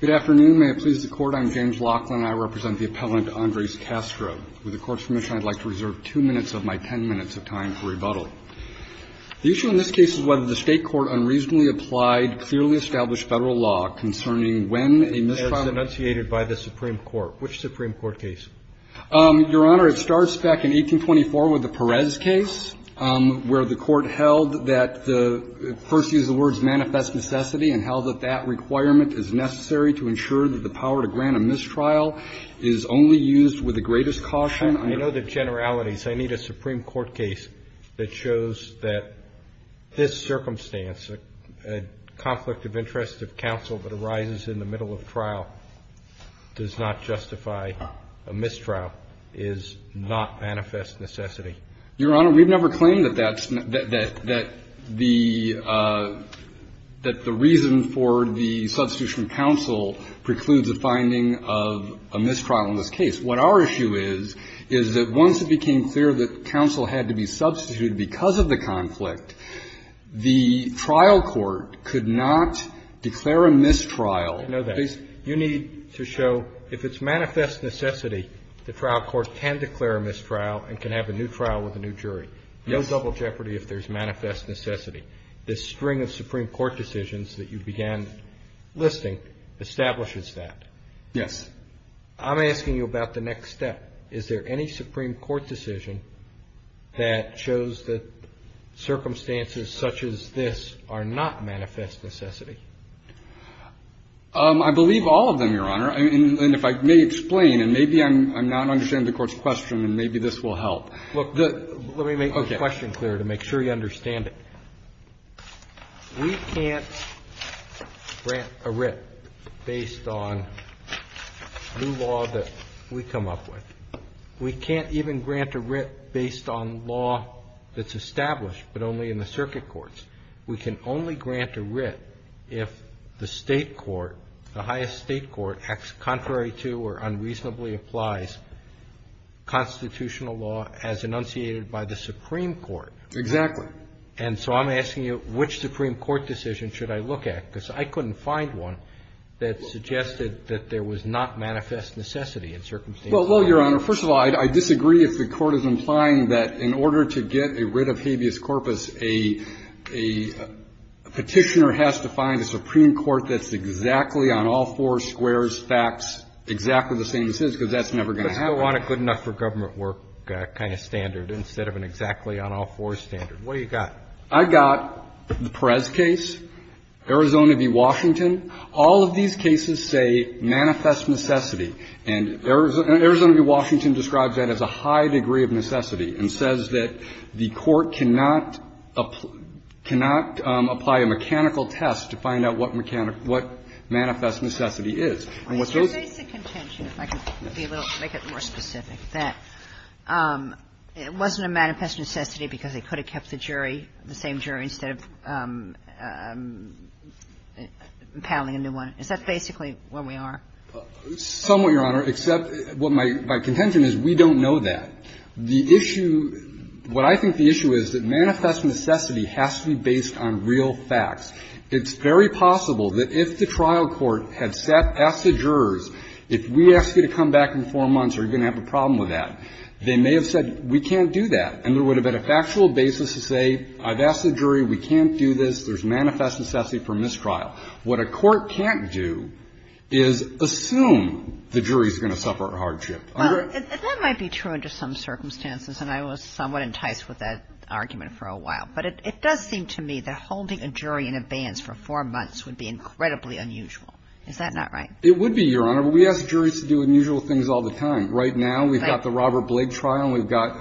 Good afternoon. May it please the Court, I'm James Laughlin and I represent the appellant Andres Castro. With the Court's permission, I'd like to reserve two minutes of my ten minutes of time for rebuttal. The issue in this case is whether the state court unreasonably applied clearly established federal law concerning when a misdemeanor- It's enunciated by the Supreme Court. Which Supreme Court case? Your Honor, it starts back in 1824 with the Perez case, where the Court held that the first use of the words manifest necessity and held that that requirement is necessary to ensure that the power to grant a mistrial is only used with the greatest caution under- I know the generalities. I need a Supreme Court case that shows that this circumstance, a conflict of interest of counsel that arises in the middle of trial, does not justify a mistrial, is not manifest necessity. Your Honor, we've never claimed that that's the reason for the substitution of counsel precludes a finding of a mistrial in this case. What our issue is, is that once it became clear that counsel had to be substituted because of the conflict, the trial court could not declare a mistrial. I know that. You need to show if it's manifest necessity, the trial court can declare a mistrial and can have a new trial with a new jury. No double jeopardy if there's manifest necessity. This string of Supreme Court decisions that you began listing establishes that. Yes. I'm asking you about the next step. Is there any Supreme Court decision that shows that circumstances such as this are not manifest necessity? I believe all of them, Your Honor. And if I may explain, and maybe I'm not understanding the Court's question, and maybe this will help. Look, let me make the question clear to make sure you understand it. We can't grant a writ based on new law that we come up with. We can't even grant a writ based on law that's established, but only in the circuit courts. We can only grant a writ if the State court, the highest State court, acts contrary to or unreasonably applies constitutional law as enunciated by the Supreme Court. Exactly. And so I'm asking you, which Supreme Court decision should I look at? Because I couldn't find one that suggested that there was not manifest necessity in circumstances like these. Well, Your Honor, first of all, I disagree if the Court is implying that in order to get a writ of habeas corpus, a Petitioner has to find a Supreme Court that's exactly on all four squares facts exactly the same as his, because that's never going to happen. Let's go on a good-enough-for-government-work kind of standard instead of an exactly on all fours standard. What do you got? I got the Perez case, Arizona v. Washington. All of these cases say manifest necessity. And Arizona v. Washington describes that as a high degree of necessity and says that the Court cannot apply a mechanical test to find out what manifest necessity is. And what those do is that it's a contention, if I can be a little, make it more specific, that it wasn't a manifest necessity because they could have kept the jury, the same jury, instead of impounding a new one. Is that basically where we are? Somewhat, Your Honor, except what my contention is, we don't know that. The issue, what I think the issue is, that manifest necessity has to be based on real facts. It's very possible that if the trial court had sat, asked the jurors, if we ask you to come back in four months, are you going to have a problem with that, they may have said we can't do that, and there would have been a factual basis to say, I've asked the jury, we can't do this, there's manifest necessity for mistrial. What a court can't do is assume the jury is going to suffer a hardship. Well, that might be true under some circumstances, and I was somewhat enticed with that argument for a while. But it does seem to me that holding a jury in abeyance for four months would be incredibly unusual. Is that not right? It would be, Your Honor. But we ask juries to do unusual things all the time. Right now, we've got the Robert Blake trial, and we've got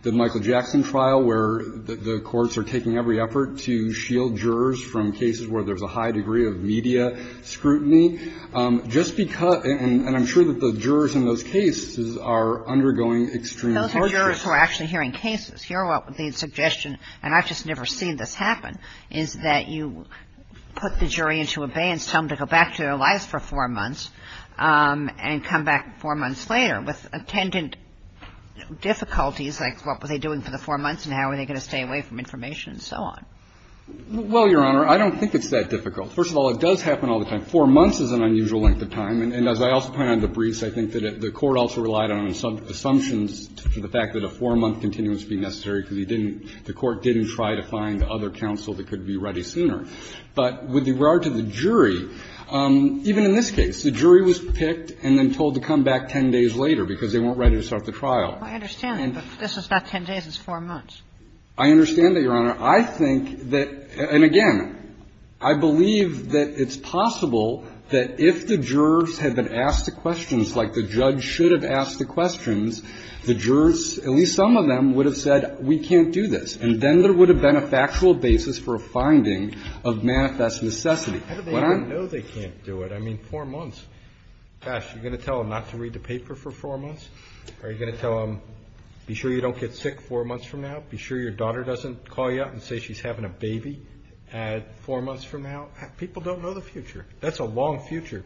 the Michael Jackson trial, where the courts are taking every effort to shield jurors from cases where there's a high degree of media scrutiny. Just because, and I'm sure that the jurors in those cases are undergoing extreme hardship. Those are jurors who are actually hearing cases. Here, what the suggestion, and I've just never seen this happen, is that you put the jury into abeyance, tell them to go back to their lives for four months, and come back four months later with attendant difficulties, like what were they doing for the four months, and how were they going to stay away from information, and so on. Well, Your Honor, I don't think it's that difficult. First of all, it does happen all the time. Four months is an unusual length of time. And as I also point out in the briefs, I think that the Court also relied on assumptions to the fact that a four-month continuum would be necessary, because he didn't the Court didn't try to find other counsel that could be ready sooner. But with regard to the jury, even in this case, the jury was picked and then told to come back 10 days later, because they weren't ready to start the trial. I understand, but this is not 10 days, it's four months. I understand that, Your Honor. I think that – and again, I believe that it's possible that if the jurors had been asked the questions like the judge should have asked the questions, the jurors, at least some of them, would have said, we can't do this. And then there would have been a factual basis for a finding of manifest necessity. How do they even know they can't do it? I mean, four months. Gosh, you're going to tell them not to read the paper for four months? Are you going to tell them, be sure you don't get sick four months from now? Be sure your daughter doesn't call you up and say she's having a baby four months from now? People don't know the future. That's a long future.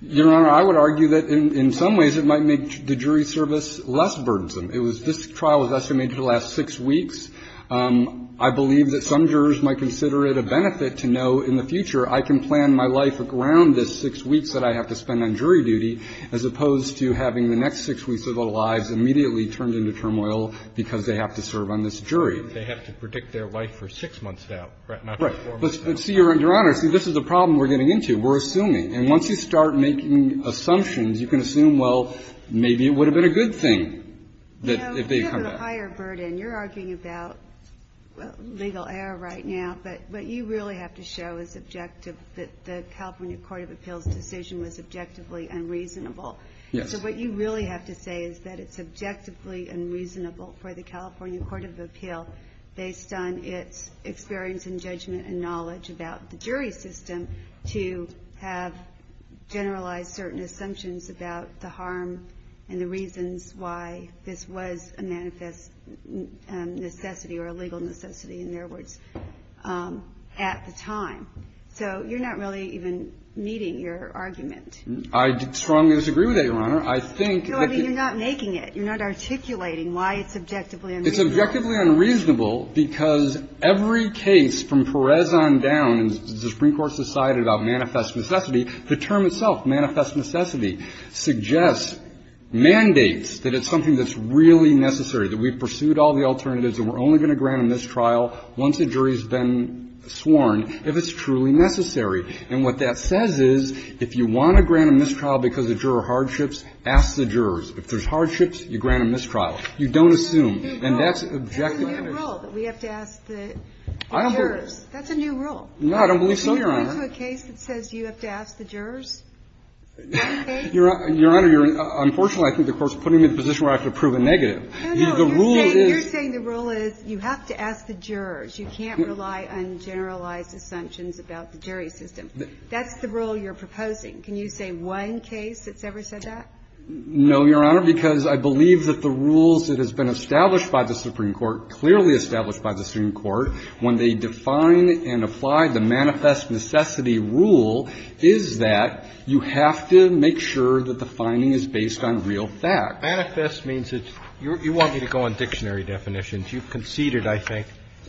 Your Honor, I would argue that in some ways it might make the jury service less burdensome. It was – this trial was estimated to last six weeks. I believe that some jurors might consider it a benefit to know in the future, I can plan my life around this six weeks that I have to spend on jury duty, as opposed to having the next six weeks of their lives immediately turned into turmoil because they have to serve on this jury. They have to predict their life for six months now, not four months. Right. But see, Your Honor, see, this is a problem we're getting into. We're assuming. And once you start making assumptions, you can assume, well, maybe it would have been a good thing if they had come back. You know, it's a little higher burden. You're arguing about legal error right now, but what you really have to show is objective that the California Court of Appeals' decision was objectively unreasonable. Yes. So what you really have to say is that it's objectively unreasonable for the California Court of Appeals, based on its experience and judgment and knowledge about the jury system, to have generalized certain assumptions about the harm and the reasons why this was a manifest necessity or a legal necessity, in their words, at the time. So you're not really even meeting your argument. I strongly disagree with that, Your Honor. I think that the You're not making it. You're not articulating why it's objectively unreasonable. It's objectively unreasonable because every case from Perez on down, and the Supreme Court's decided about manifest necessity, the term itself, manifest necessity, suggests, mandates that it's something that's really necessary, that we've pursued all the alternatives and we're only going to grant them this trial once the jury's been sworn, if it's truly necessary. And what that says is, if you want to grant a mistrial because of juror hardships, ask the jurors. If there's hardships, you grant a mistrial. You don't assume. And that's objective. That's a new rule, that we have to ask the jurors. That's a new rule. No, I don't believe so, Your Honor. Can you go to a case that says you have to ask the jurors? Your Honor, unfortunately, I think the Court's putting me in a position where I have to prove a negative. No, no. You're saying the rule is you have to ask the jurors. You can't rely on generalized assumptions about the jury system. That's the rule you're proposing. Can you say one case that's ever said that? No, Your Honor, because I believe that the rules that have been established by the Supreme Court, clearly established by the Supreme Court, when they define and apply the manifest necessity rule, is that you have to make sure that the finding is based on real facts. Manifest means it's you want me to go on dictionary definitions. You've conceded, I think,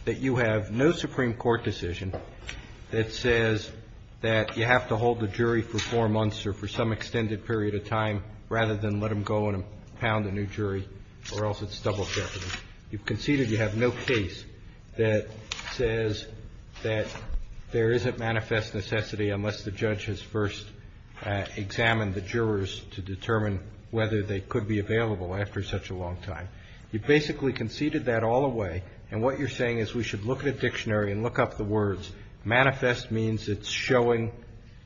that you have no Supreme Court decision that says that you have to hold the jury for four months or for some extended period of time rather than let them go and pound a new jury or else it's double jeopardy. You've conceded you have no case that says that there isn't manifest necessity unless the judge has first examined the jurors to determine whether they could be available after such a long time. You've basically conceded that all away, and what you're saying is we should look at a dictionary and look up the words. Manifest means it's showing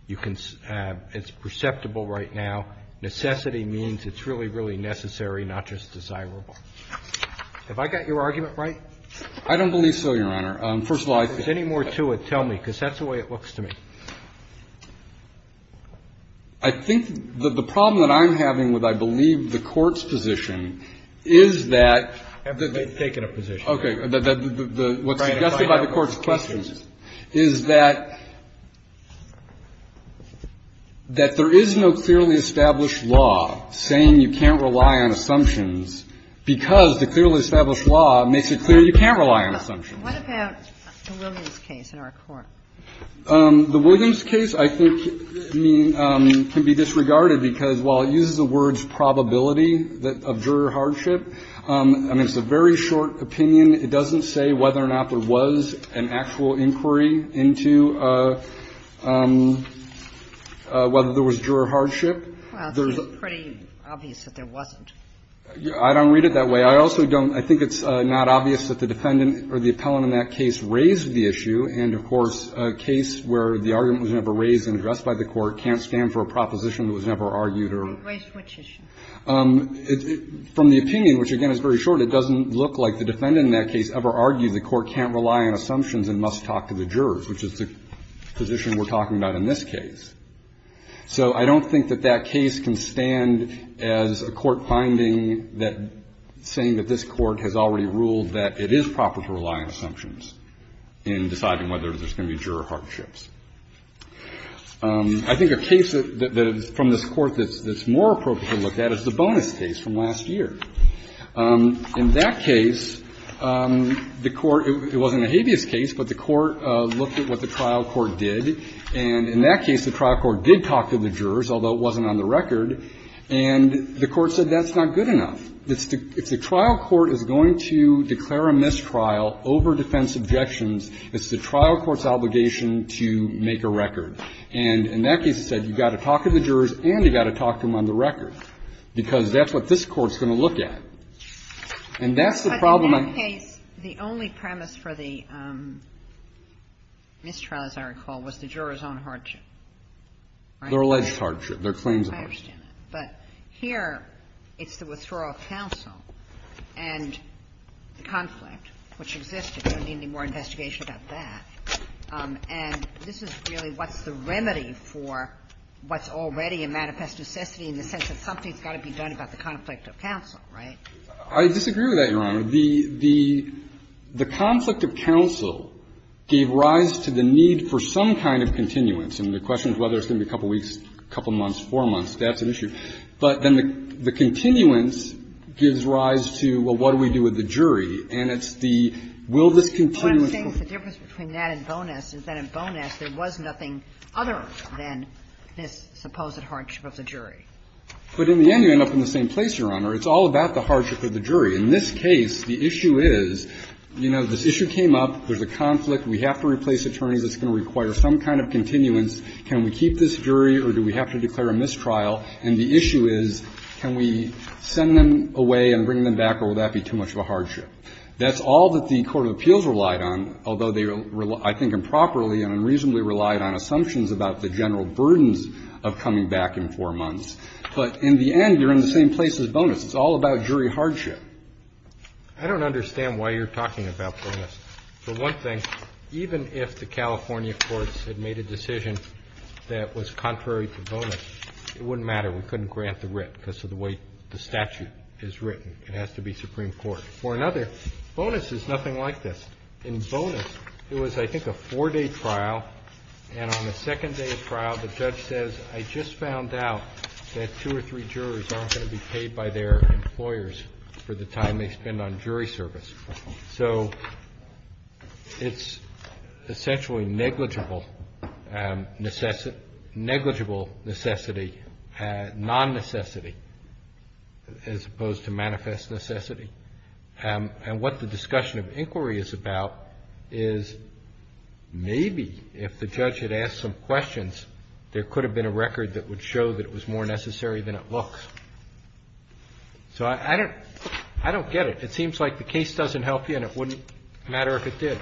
you can ‑‑ it's perceptible right now. Necessity means it's really, really necessary, not just desirable. Have I got your argument right? I don't believe so, Your Honor. First of all, I think ‑‑ If there's any more to it, tell me, because that's the way it looks to me. I think that the problem that I'm having with, I believe, the Court's position is that ‑‑ I haven't taken a position. Okay. What's suggested by the Court's question is that there is no clearly established law saying you can't rely on assumptions because the clearly established law makes it clear you can't rely on assumptions. What about the Williams case in our court? The Williams case, I think, can be disregarded because while it uses the words probability of juror hardship, I mean, it's a very short opinion. It doesn't say whether or not there was an actual inquiry into whether there was juror hardship. Well, it seems pretty obvious that there wasn't. I don't read it that way. I also don't ‑‑ I think it's not obvious that the defendant or the appellant in that case raised the issue. And, of course, a case where the argument was never raised and addressed by the Court can't stand for a proposition that was never argued or ‑‑ Which issue? From the opinion, which, again, is very short, it doesn't look like the defendant in that case ever argued the Court can't rely on assumptions and must talk to the jurors, which is the position we're talking about in this case. So I don't think that that case can stand as a court finding that saying that this Court has already ruled that it is proper to rely on assumptions in deciding whether there's going to be juror hardships. I think a case that is from this Court that's more appropriate to look at is the bonus case from last year. In that case, the Court ‑‑ it wasn't a habeas case, but the Court looked at what the trial court did, and in that case, the trial court did talk to the jurors, although it wasn't on the record, and the Court said that's not good enough. If the trial court is going to declare a mistrial over defense objections, it's the court's job to make a record. And in that case, it said you've got to talk to the jurors, and you've got to talk to them on the record, because that's what this Court's going to look at. And that's the problem I'm ‑‑ But in that case, the only premise for the mistrial, as I recall, was the juror's own hardship. Their alleged hardship, their claims of hardship. I understand that. But here, it's the withdrawal of counsel, and the conflict, which existed, and there And this is really what's the remedy for what's already a manifest necessity in the sense that something's got to be done about the conflict of counsel, right? I disagree with that, Your Honor. The conflict of counsel gave rise to the need for some kind of continuance. And the question is whether it's going to be a couple weeks, a couple months, four months. That's an issue. But then the continuance gives rise to, well, what do we do with the jury? And it's the will this continuance be ‑‑ What I'm saying is the difference between that and Bowness is that in Bowness there was nothing other than this supposed hardship of the jury. But in the end, you end up in the same place, Your Honor. It's all about the hardship of the jury. In this case, the issue is, you know, this issue came up, there's a conflict, we have to replace attorneys, it's going to require some kind of continuance. Can we keep this jury or do we have to declare a mistrial? And the issue is, can we send them away and bring them back or will that be too much of a hardship? That's all that the Court of Appeals relied on, although they, I think, improperly and unreasonably relied on assumptions about the general burdens of coming back in four months. But in the end, you're in the same place as Bowness. It's all about jury hardship. I don't understand why you're talking about Bowness. For one thing, even if the California courts had made a decision that was contrary to Bowness, it wouldn't matter. We couldn't grant the writ because of the way the statute is written. It has to be Supreme Court. For another, Bowness is nothing like this. In Bowness, it was, I think, a four-day trial, and on the second day of trial, the judge says, I just found out that two or three juries aren't going to be paid by their employers for the time they spend on jury service. So it's essentially negligible necessity, non-necessity as opposed to manifest necessity. And what the discussion of inquiry is about is maybe if the judge had asked some questions, there could have been a record that would show that it was more necessary than it looks. So I don't get it. It seems like the case doesn't help you, and it wouldn't matter if it did.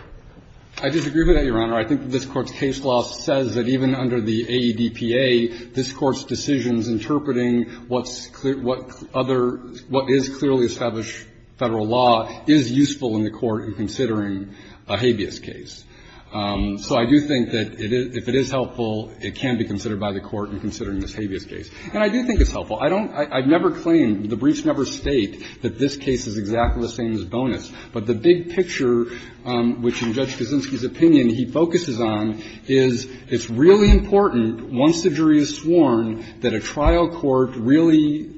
I disagree with that, Your Honor. I think this Court's case law says that even under the AEDPA, this Court's decisions interpreting what's clear, what other, what is clearly established Federal law is useful in the Court in considering a habeas case. So I do think that if it is helpful, it can be considered by the Court in considering this habeas case. And I do think it's helpful. I don't, I never claim, the briefs never state that this case is exactly the same as Bowness. But the big picture, which in Judge Kaczynski's opinion he focuses on, is it's really important, once the jury is sworn, that a trial court really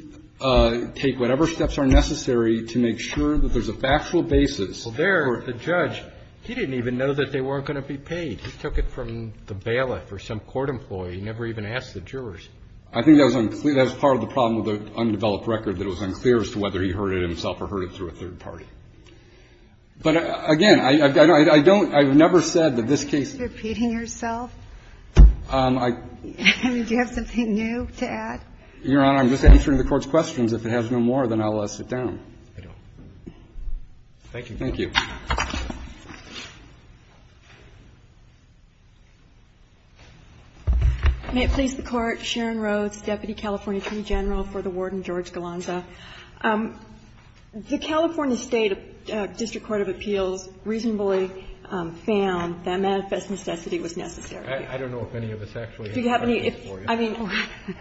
take whatever steps are necessary to make sure that there's a factual basis for the court. Well, there, the judge, he didn't even know that they weren't going to be paid. He took it from the bailiff or some court employee. He never even asked the jurors. I think that was unclear. That was part of the problem with the undeveloped record, that it was unclear as to whether he heard it himself or heard it through a third party. I mean, do you have something new to add? Your Honor, I'm just answering the Court's questions. If it has no more, then I'll let it sit down. Thank you. Thank you. May it please the Court. Sharon Rhodes, deputy California attorney general for the Warden, George Galanza. The California State district court of appeals reasonably found that manifest necessity was necessary. I don't know if any of us actually have anything for you. I mean,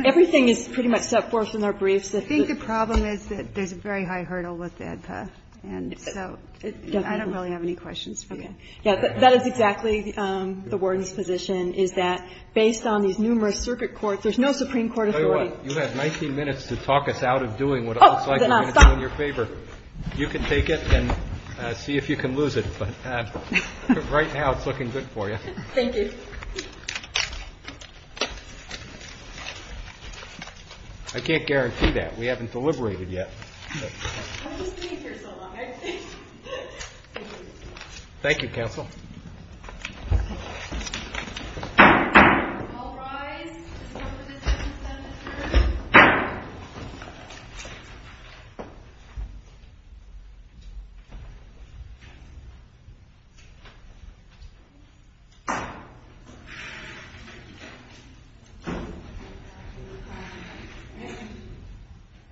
everything is pretty much set forth in our briefs. I think the problem is that there's a very high hurdle with the ADPA, and so I don't really have any questions for you. Yeah, that is exactly the Warden's position, is that based on these numerous circuit courts, there's no Supreme Court authority. You have 19 minutes to talk us out of doing what it looks like we're going to do in your favor. You can take it and see if you can lose it, but right now it's looking good for you. Thank you. I can't guarantee that. We haven't deliberated yet. Thank you, counsel.